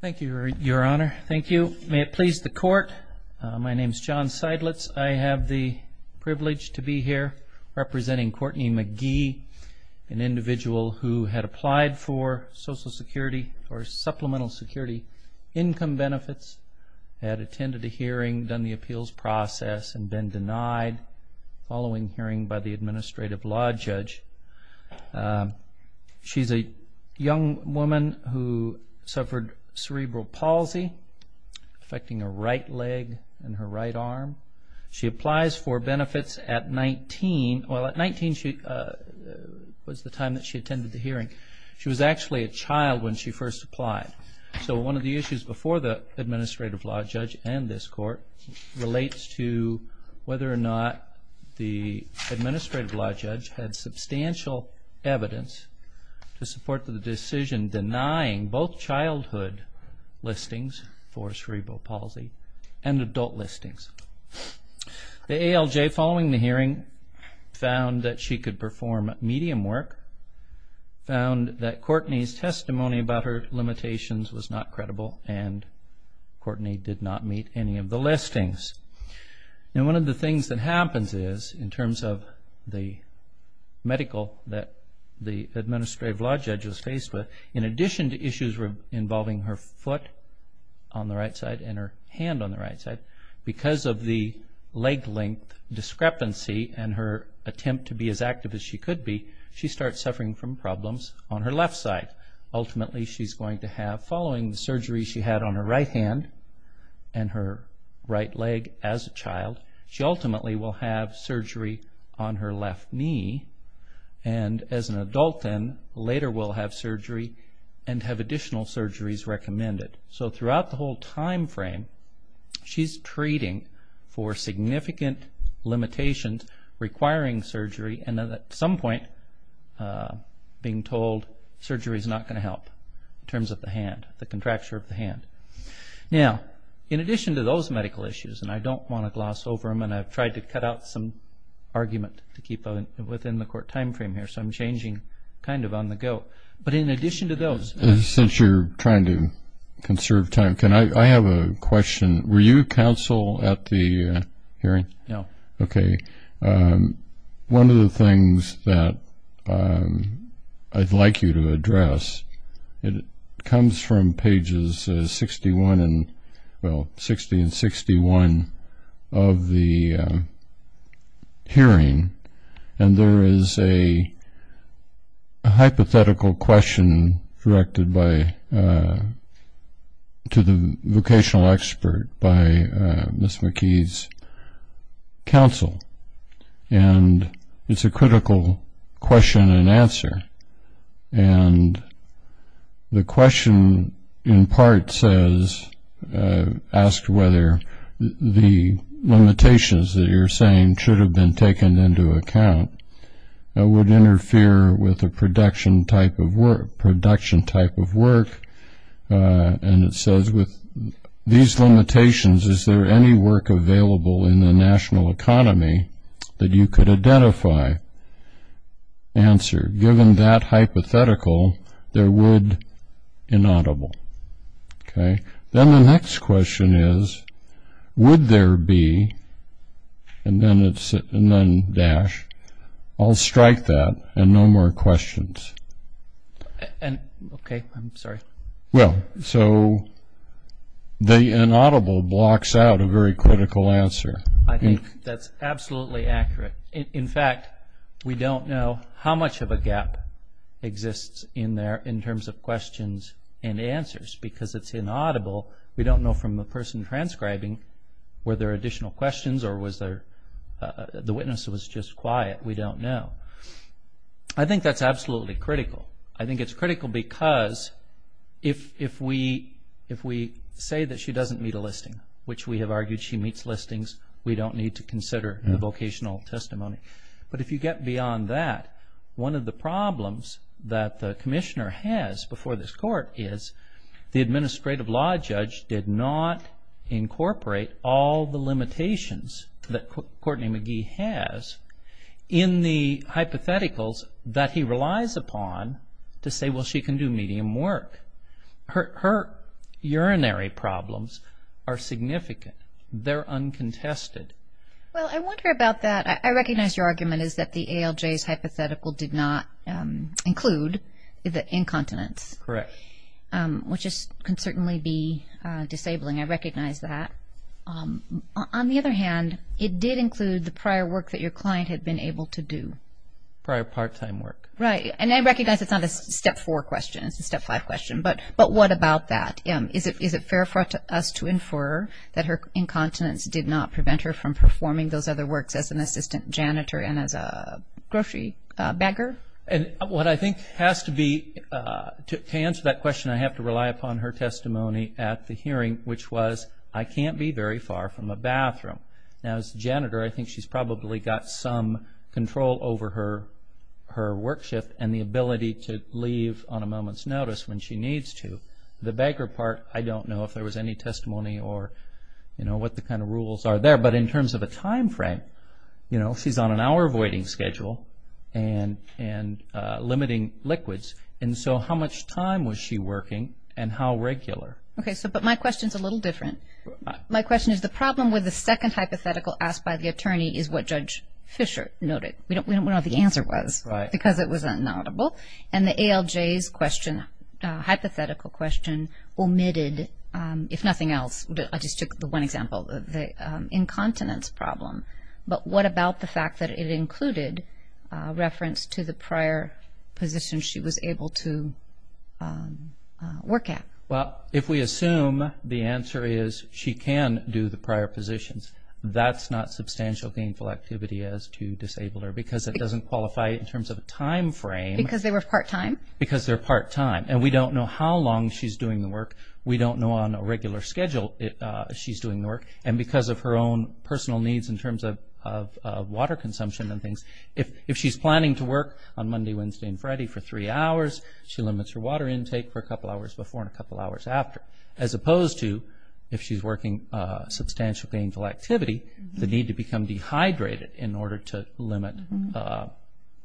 Thank you, Your Honor. Thank you. May it please the court, my name is John Seidlitz. I have the privilege to be here representing Kortney McGee, an individual who had applied for Social Security or Supplemental Security income benefits, had attended a hearing, done the appeals process, and been denied following hearing by the Administrative Law Judge. She's a young woman who suffered cerebral palsy affecting her right leg and her right arm. She applies for benefits at 19. Well, at 19 was the time that she attended the hearing. She was actually a child when she first applied. So one of the issues before the hearing was that the Administrative Law Judge had substantial evidence to support the decision denying both childhood listings for cerebral palsy and adult listings. The ALJ following the hearing found that she could perform medium work, found that Kortney's testimony about her limitations was not credible, and Kortney did not meet any of the listings. Now one of the things that happens is, in terms of the medical that the Administrative Law Judge was faced with, in addition to issues involving her foot on the right side and her hand on the right side, because of the leg length discrepancy and her attempt to be as active as she could be, she starts suffering from problems on her left side. Ultimately she's going to have, following the surgery she had on her right hand and her right leg as a child, she ultimately will have surgery on her left knee and as an adult then later will have surgery and have additional surgeries recommended. So throughout the whole time frame she's treating for significant limitations requiring surgery and at some point being told surgery is not going to help in terms of the hand, the contracture of the hand. Now in addition to those medical issues, and I don't want to gloss over them and I've tried to cut out some argument to keep within the court time frame here, so I'm changing kind of on the go, but in addition to those... Since you're trying to conserve time, can I have a question? Were you counsel at the hearing? No. Okay, one of the things that I'd like you to address, it comes from pages 61 and well 60 and 61 of the hearing and there is a hypothetical question directed by, to the vocational expert by Ms. McKee's counsel and it's a critical question and answer and the question in part says, asked whether the limitations that you're saying should have been taken into account would interfere with a production type of work and it says with these limitations, is there any work available in the national economy that you could identify? Answer, given that hypothetical, there would inaudible. Okay, then the next question is, would there be and then it's Well, so the inaudible blocks out a very critical answer. I think that's absolutely accurate. In fact, we don't know how much of a gap exists in there in terms of questions and answers because it's inaudible. We don't know from the person transcribing, were there additional questions or was there, the witness was just quiet. We don't know. I think that's absolutely critical. I think it's if we say that she doesn't meet a listing, which we have argued she meets listings, we don't need to consider the vocational testimony. But if you get beyond that, one of the problems that the commissioner has before this court is the administrative law judge did not incorporate all the limitations that Courtney McKee has in the hypotheticals that he relies upon to say, well, she can do medium work. Her urinary problems are significant. They're uncontested. Well, I wonder about that. I recognize your argument is that the ALJ's hypothetical did not include the incontinence. Correct. Which can certainly be disabling. I recognize that. On the other hand, it did include the prior work that your client had been able to do. Prior part-time work. Right, and I recognize it's not a step four question. It's a step five question. But what about that? Is it fair for us to infer that her incontinence did not prevent her from performing those other works as an assistant janitor and as a grocery bagger? And what I think has to be, to answer that question, I have to rely upon her testimony at the hearing, which was, I can't be very far from a bathroom. Now, as a janitor, I think she's probably got some control over her work shift and the ability to leave on a moment's notice when she needs to. The bagger part, I don't know if there was any testimony or, you know, what the kind of rules are there. But in terms of a time frame, you know, she's on an hour voiding schedule and limiting liquids. And so, how much time was she working and how regular? Okay, so, but my question is a little different. My question is, the problem with the second hypothetical asked by the attorney is what Judge Fischer noted. We don't know what the answer was because it was inaudible. And the ALJ's question, hypothetical question, omitted, if nothing else, I just took the one example of the incontinence problem. But what about the fact that it included reference to the prior position she was able to work at? Well, if we assume the answer is she can do the prior positions, that's not substantial gainful activity as to disable her because it doesn't qualify in terms of a time frame. Because they were part-time? Because they're part-time. And we don't know how long she's doing the work. We don't know on a regular schedule if she's doing the work. And because of her own personal needs in terms of water consumption and things, if she's planning to work on Monday, Wednesday, and Friday for three hours, she limits her water intake for a couple hours before and a couple hours after. As opposed to, if she's working substantial gainful activity, the need to become dehydrated in order to limit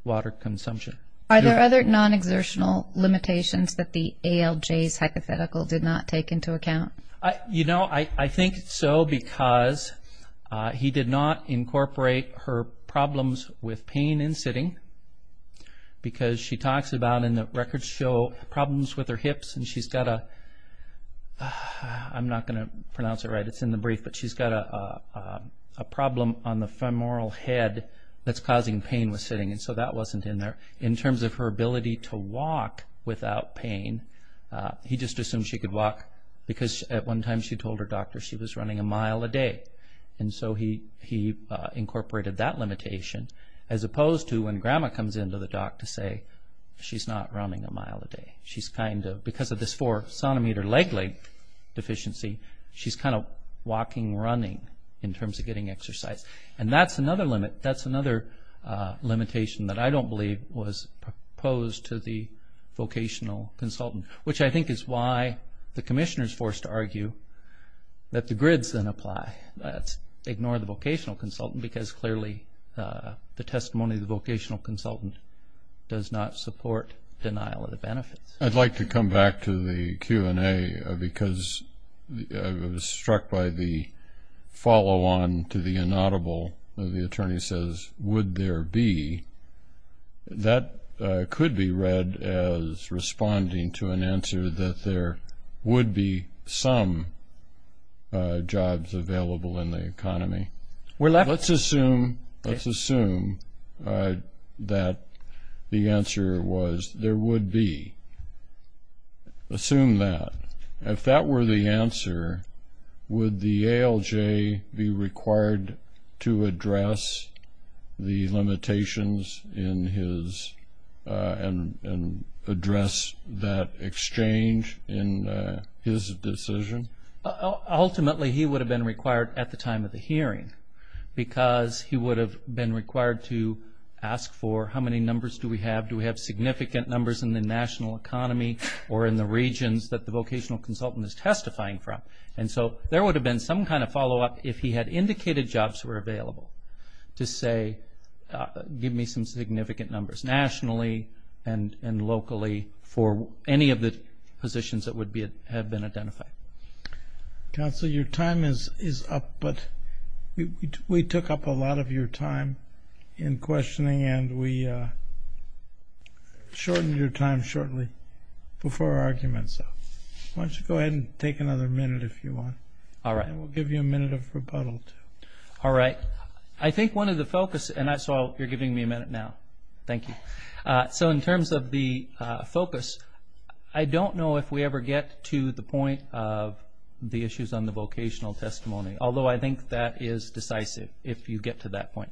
water consumption. Are there other non-exertional limitations that the ALJ's hypothetical did not take into account? You know, I think so because he did not incorporate her problems with pain in sitting because she talks about in the record show problems with her hips and she's got a, I'm not going to pronounce it right, it's in the brief, but she's got a problem on the femoral head that's causing pain with sitting. And so that wasn't in there. In terms of her ability to walk without pain, he just assumed she could walk because at one time she told her doctor she was running a mile a day. And so he incorporated that limitation as opposed to when grandma comes into the doc to say, she's not running a mile a day. She's kind of, because of this four centimeter leg length deficiency, she's kind of walking, running in terms of getting exercise. And that's another limit, that's another limitation that I don't believe was proposed to the vocational consultant. Which I think is why the commissioner is forced to argue that the grids then apply. Ignore the vocational consultant because clearly the testimony of the vocational consultant does not support denial of the benefits. I'd like to come back to the Q&A because I was struck by the follow-on to the inaudible. The attorney says, would there be, that could be read as responding to an answer that there would be some jobs available in the economy. Let's assume, let's assume that the answer was there would be. Assume that. If that were the answer, would the ALJ be required to address the limitations in his, and address that exchange in his decision? Ultimately he would have been because he would have been required to ask for how many numbers do we have? Do we have significant numbers in the national economy or in the regions that the vocational consultant is testifying from? And so there would have been some kind of follow-up if he had indicated jobs were available to say, give me some significant numbers nationally and locally for any of the positions that would be have been identified. Counselor, your time is up, but we took up a lot of your time in questioning and we shortened your time shortly before our argument. So why don't you go ahead and take another minute if you want. All right. We'll give you a minute of rebuttal. All right. I think one of the focus, and I saw you're giving me a minute now. Thank you. So in terms of the get to the point of the issues on the vocational testimony, although I think that is decisive if you get to that point.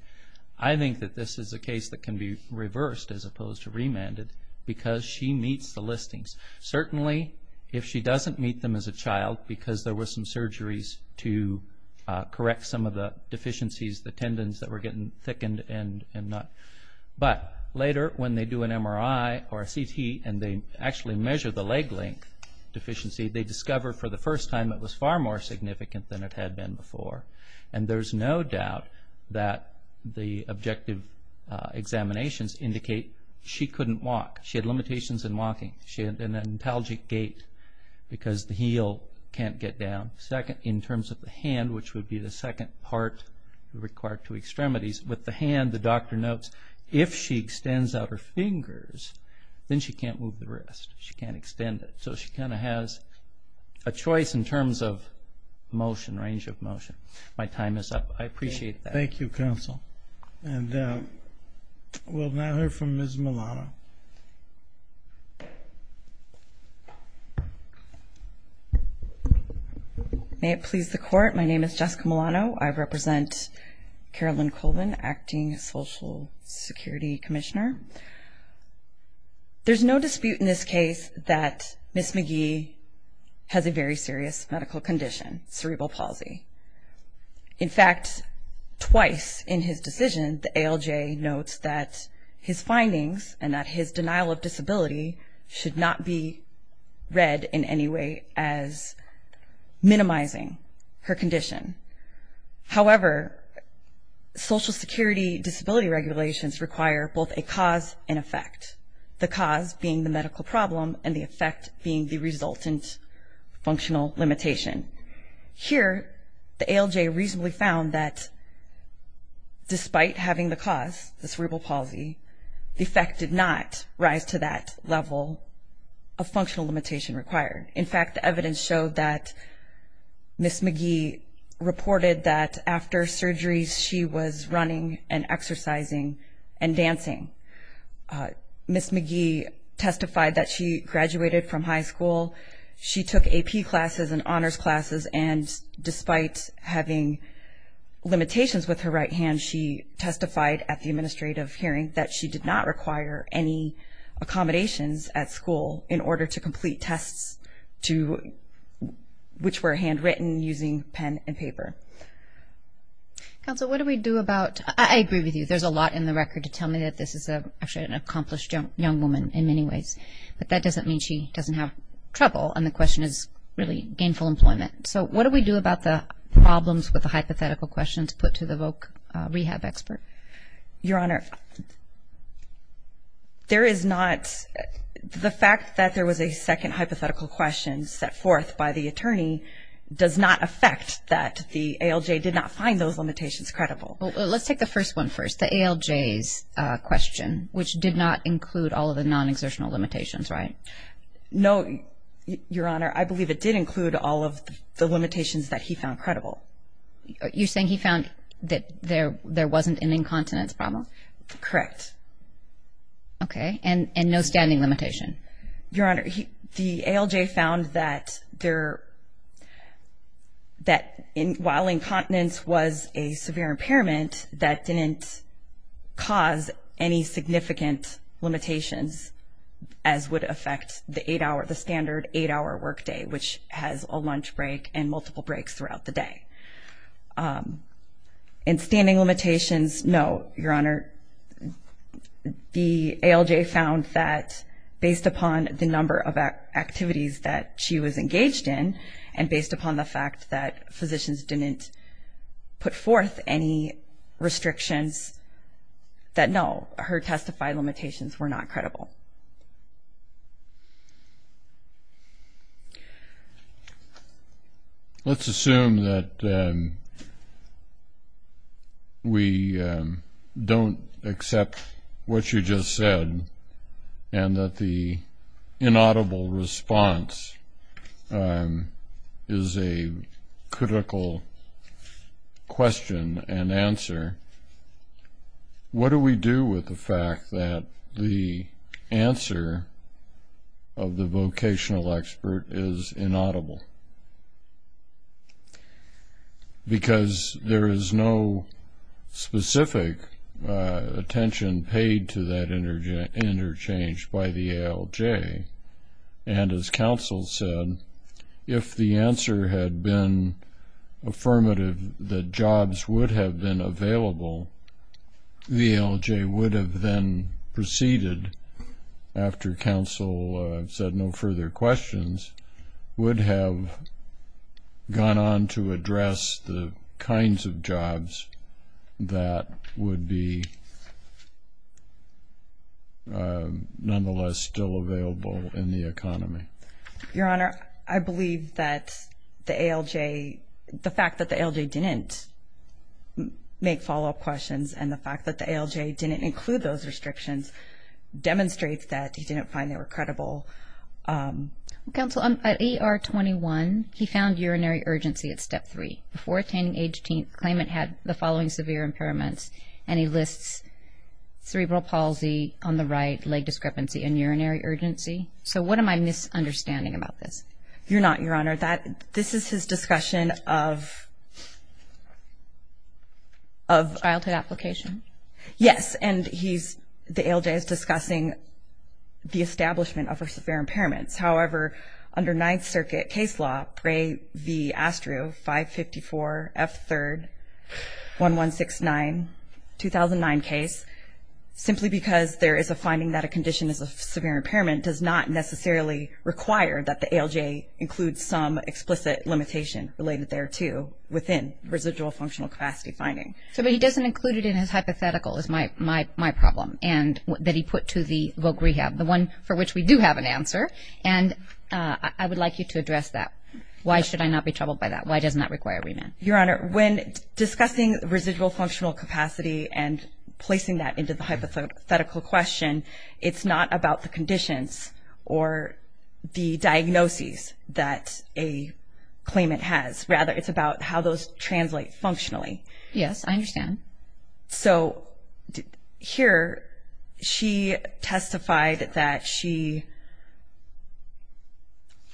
I think that this is a case that can be reversed as opposed to remanded because she meets the listings. Certainly if she doesn't meet them as a child because there were some surgeries to correct some of the deficiencies, the tendons that were getting thickened and not. But later when they do an MRI or a CT and they actually measure the leg length deficiency, they discover for the first time it was far more significant than it had been before. And there's no doubt that the objective examinations indicate she couldn't walk. She had limitations in walking. She had an antalgic gait because the heel can't get down. Second, in terms of the hand, which would be the second part required to extremities. With the hand, the doctor notes, if she extends out her fingers, then she can't move the wrist. She can't move it. So she kind of has a choice in terms of motion, range of motion. My time is up. I appreciate that. Thank you, counsel. And we'll now hear from Ms. Milano. May it please the court, my name is Jessica Milano. I represent Carolyn Colvin, Acting Social Security Commissioner. There's no dispute in this case that Ms. McGee has a very serious medical condition, cerebral palsy. In fact, twice in his decision, the ALJ notes that his findings and that his denial of disability should not be read in any way as minimizing her condition. However, Social Security disability regulations require both a cause and effect. The cause being the medical problem and the effect being the resultant functional limitation. Here, the ALJ reasonably found that despite having the cause, the cerebral palsy, the effect did not rise to that level of functional limitation required. In fact, the evidence showed that Ms. McGee reported that after surgeries, she was running and exercising and dancing. Ms. McGee testified that she graduated from high school. She took AP classes and honors classes and despite having limitations with her right hand, she testified at the administrative hearing that she did not require any accommodations at school in Council, what do we do about, I agree with you, there's a lot in the record to tell me that this is an accomplished young woman in many ways, but that doesn't mean she doesn't have trouble and the question is really gainful employment. So what do we do about the problems with the hypothetical questions put to the voc rehab expert? Your Honor, there is not, the fact that there was a second hypothetical question set forth by the attorney does not affect that the ALJ did not find those limitations credible. Let's take the first one first, the ALJ's question, which did not include all of the non-exertional limitations, right? No, Your Honor, I believe it did include all of the limitations that he found credible. You're saying he found that there wasn't an incontinence problem? Correct. Okay, and no standing limitation? Your Honor, the incontinence was a severe impairment that didn't cause any significant limitations as would affect the eight-hour, the standard eight-hour work day, which has a lunch break and multiple breaks throughout the day. And standing limitations, no, Your Honor, the ALJ found that based upon the number of activities that she was engaged in and based upon the fact that physicians didn't put forth any restrictions, that no, her testified limitations were not credible. Let's assume that we don't accept what you just said and that the question and answer, what do we do with the fact that the answer of the vocational expert is inaudible? Because there is no specific attention paid to that interchange by the ALJ, and as counsel said, if the answer had been affirmative, that jobs would have been available, the ALJ would have then proceeded after counsel said no further questions, would have gone on to address the kinds of jobs that would be nonetheless still available in the The fact that the ALJ didn't make follow-up questions and the fact that the ALJ didn't include those restrictions demonstrates that he didn't find they were credible. Counsel, at ER 21, he found urinary urgency at step three. Before attaining age 18, claimant had the following severe impairments, and he lists cerebral palsy on the right, leg discrepancy, and urinary urgency. So what am I misunderstanding about this? You're not, Your Honor. This is his discussion of Childhood application? Yes, and the ALJ is discussing the establishment of severe impairments. However, under Ninth Circuit case law, Bray v. Astru, 554 F3, 1169, 2009 case, simply because there is a finding that a condition is a severe impairment does not necessarily require that the ALJ includes some explicit limitation related thereto within residual functional capacity finding. But he doesn't include it in his hypothetical, is my problem, and that he put to the voc rehab, the one for which we do have an answer, and I would like you to address that. Why should I not be troubled by that? Why doesn't that require remand? Your Honor, when discussing residual functional capacity and placing that into the hypothetical question, it's not about the conditions or the diagnoses that a claimant has. Rather, it's about how those translate functionally. Yes, I understand. So here, she testified that she,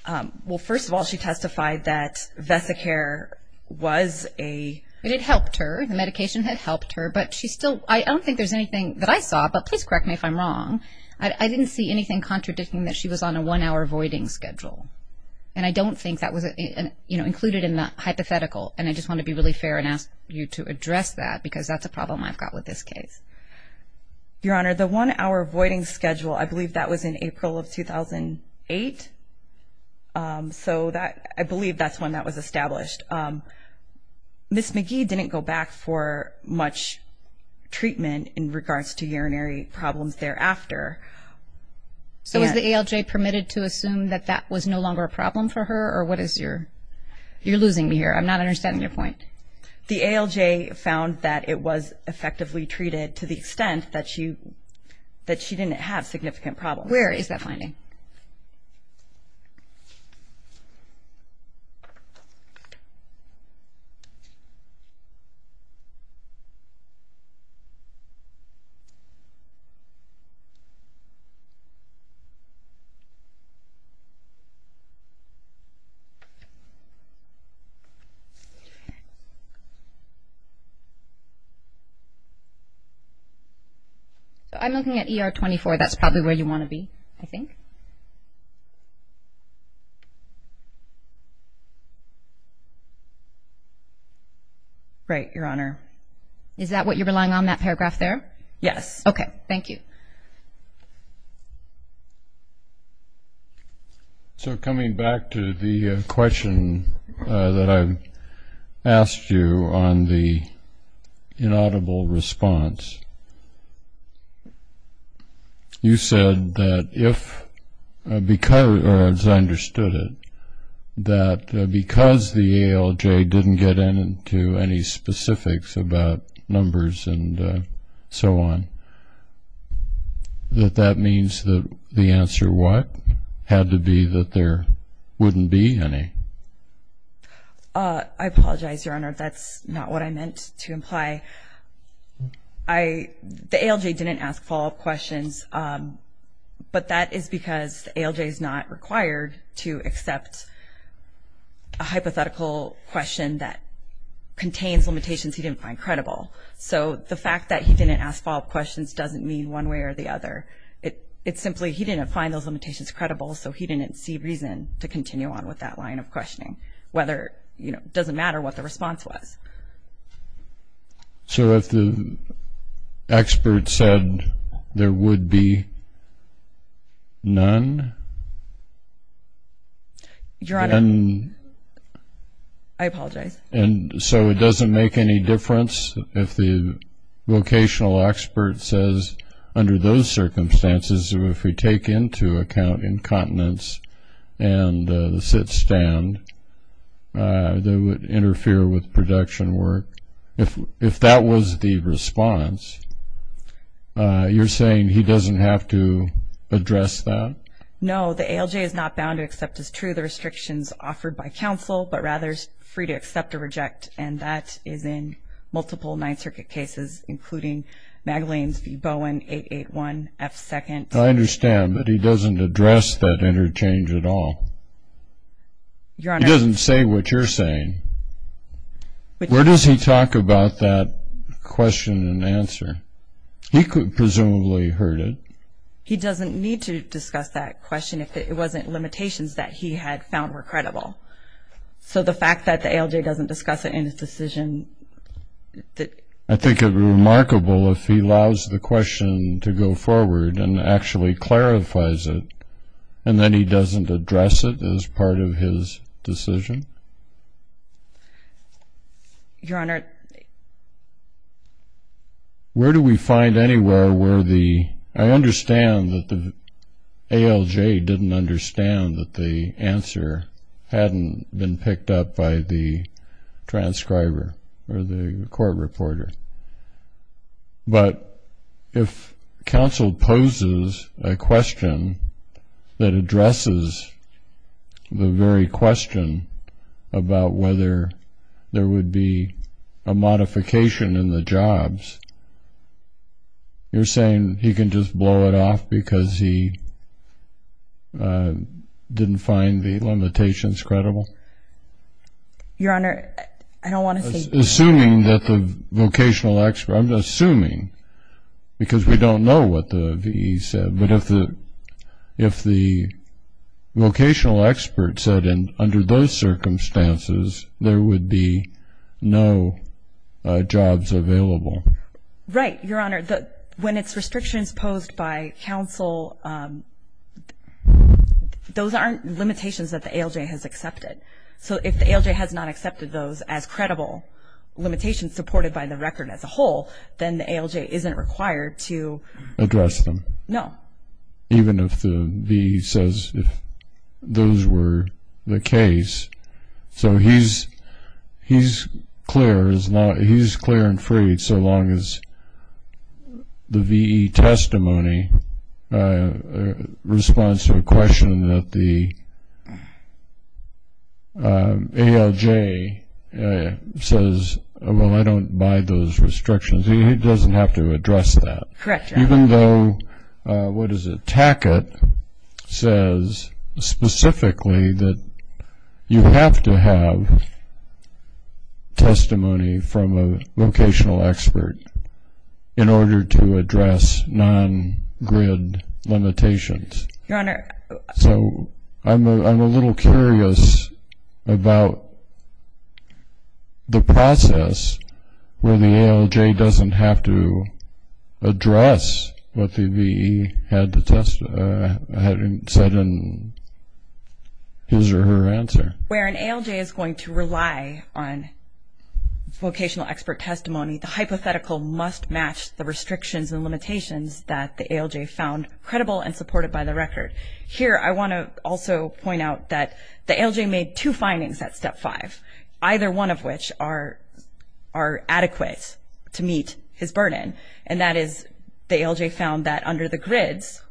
well, first of all, she testified that Vesicare was a... It had helped her. The medication had helped her, but she still, I don't think there's anything that I saw, but please correct me if I'm wrong. I didn't see anything contradicting that she was on a one-hour voiding schedule, and I don't think that was, you know, included in the hypothetical, and I just want to be really fair and ask you to address that because that's a problem I've got with this case. Your Honor, the one-hour voiding schedule, I believe that was in April of August. Ms. McGee didn't go back for much treatment in regards to urinary problems thereafter. So was the ALJ permitted to assume that that was no longer a problem for her, or what is your... You're losing me here. I'm not understanding your point. The ALJ found that it was effectively treated to the extent that she didn't have significant problems. Where is that finding? I'm looking at ER 24. That's probably where you want to be, I think. Right, Your Honor. Is that what you're relying on, that paragraph there? Yes. Okay, thank you. So coming back to the question that I've asked you on the inaudible response, you said that if, or as I understood it, that because the ALJ didn't get into any specifics about numbers and so on, that that means that the answer what? Had to be that there wouldn't be any. I apologize, Your Honor. That's not what I meant to imply. The ALJ didn't ask follow-up questions, but that is because the ALJ is not required to accept a hypothetical question that contains limitations he didn't find credible. So the fact that he didn't ask follow-up questions doesn't mean one way or the other. It's simply he didn't find those limitations credible, so he didn't see reason to continue on with that line of questioning, whether, you know, it doesn't matter what the response was. So if the expert said there would be none? Your Honor, I apologize. And so it doesn't make any difference if the vocational expert says under those conditions, and the sit-stand, that it would interfere with production work. If that was the response, you're saying he doesn't have to address that? No, the ALJ is not bound to accept as true the restrictions offered by counsel, but rather is free to accept or reject, and that is in multiple Ninth Circuit cases, including Magdalene v. Bowen, 881 F. 2nd. I understand, but he doesn't address that interchange at all. He doesn't say what you're saying. Where does he talk about that question and answer? He presumably heard it. He doesn't need to discuss that question if it wasn't limitations that he had found were credible. So the fact that the ALJ doesn't discuss it in its decision I think it would be remarkable if he allows the question to go forward and actually clarifies it, and then he doesn't address it as part of his decision. Your Honor. Where do we find anywhere where the, I understand that the ALJ didn't understand that the answer hadn't been picked up by the transcriber. Or the court reporter. But if counsel poses a question that addresses the very question about whether there would be a modification in the jobs, you're saying he can just blow it off because he didn't find the limitations credible? Your Honor, I don't want to say. Assuming that the vocational expert, I'm assuming, because we don't know what the V.E. said, but if the vocational expert said under those circumstances there would be no jobs available. Right, Your Honor. When it's restrictions posed by counsel, those aren't limitations that the ALJ has accepted. So if the ALJ has not accepted those as credible limitations supported by the record as a whole, then the ALJ isn't required to address them. No. Even if the V.E. says those were the case. So he's clear and free so long as the V.E. testimony responds to a question that the ALJ says, well, I don't buy those restrictions. He doesn't have to address that. Correct, Your Honor. Even though, what is it, Tackett says specifically that you have to have a vocational expert in order to address non-grid limitations. Your Honor. So I'm a little curious about the process where the ALJ doesn't have to address what the V.E. had said in his or her answer. Where an ALJ is going to rely on vocational expert testimony, the hypothetical must match the restrictions and limitations that the ALJ found credible and supported by the record. Here I want to also point out that the ALJ made two findings at Step 5, either one of which are adequate to meet his burden, and that is the ALJ found that under the grids,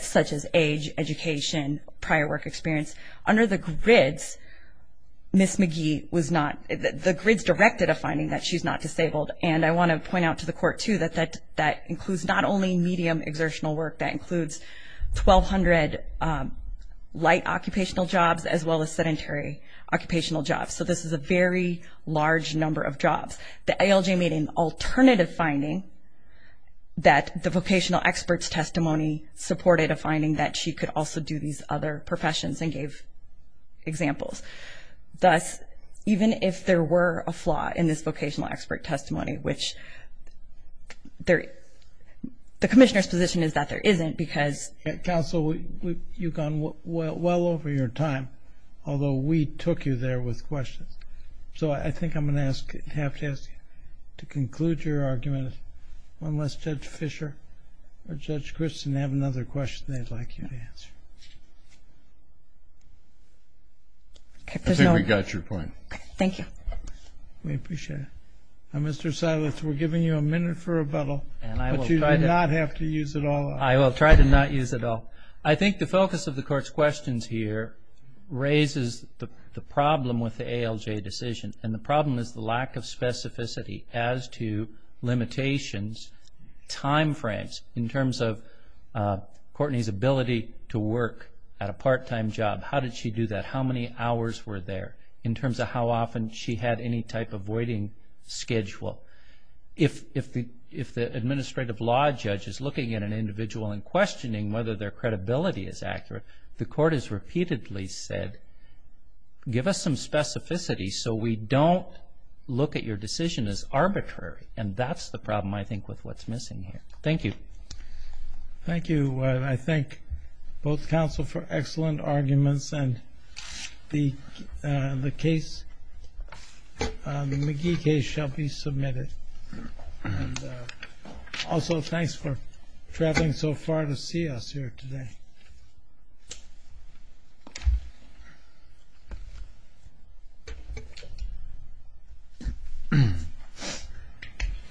such as age, education, prior work experience, under the grids, Ms. Magee was not, the grids directed a finding that she's not disabled. And I want to point out to the Court, too, that that includes not only medium exertional work, that includes 1,200 light occupational jobs as well as sedentary occupational jobs. The ALJ made an alternative finding that the vocational expert's testimony supported a finding that she could also do these other professions and gave examples. Thus, even if there were a flaw in this vocational expert testimony, which the Commissioner's position is that there isn't because... Counsel, you've gone well over your time, although we took you there with questions. So I think I'm going to have to ask you to conclude your argument. Unless Judge Fischer or Judge Christen have another question they'd like you to answer. I think we got your point. Thank you. We appreciate it. Mr. Silas, we're giving you a minute for rebuttal, but you do not have to use it all up. We appreciate the decision. And the problem is the lack of specificity as to limitations, timeframes, in terms of Courtney's ability to work at a part-time job. How did she do that? How many hours were there in terms of how often she had any type of waiting schedule? If the administrative law judge is looking at an individual and questioning whether their credibility is accurate, the court has repeatedly said, give us some specificity so we don't look at your decision as arbitrary. And that's the problem, I think, with what's missing here. Thank you. Thank you, and I thank both counsel for excellent arguments, and the McGee case shall be submitted. Also, thanks for traveling so far to see us here today.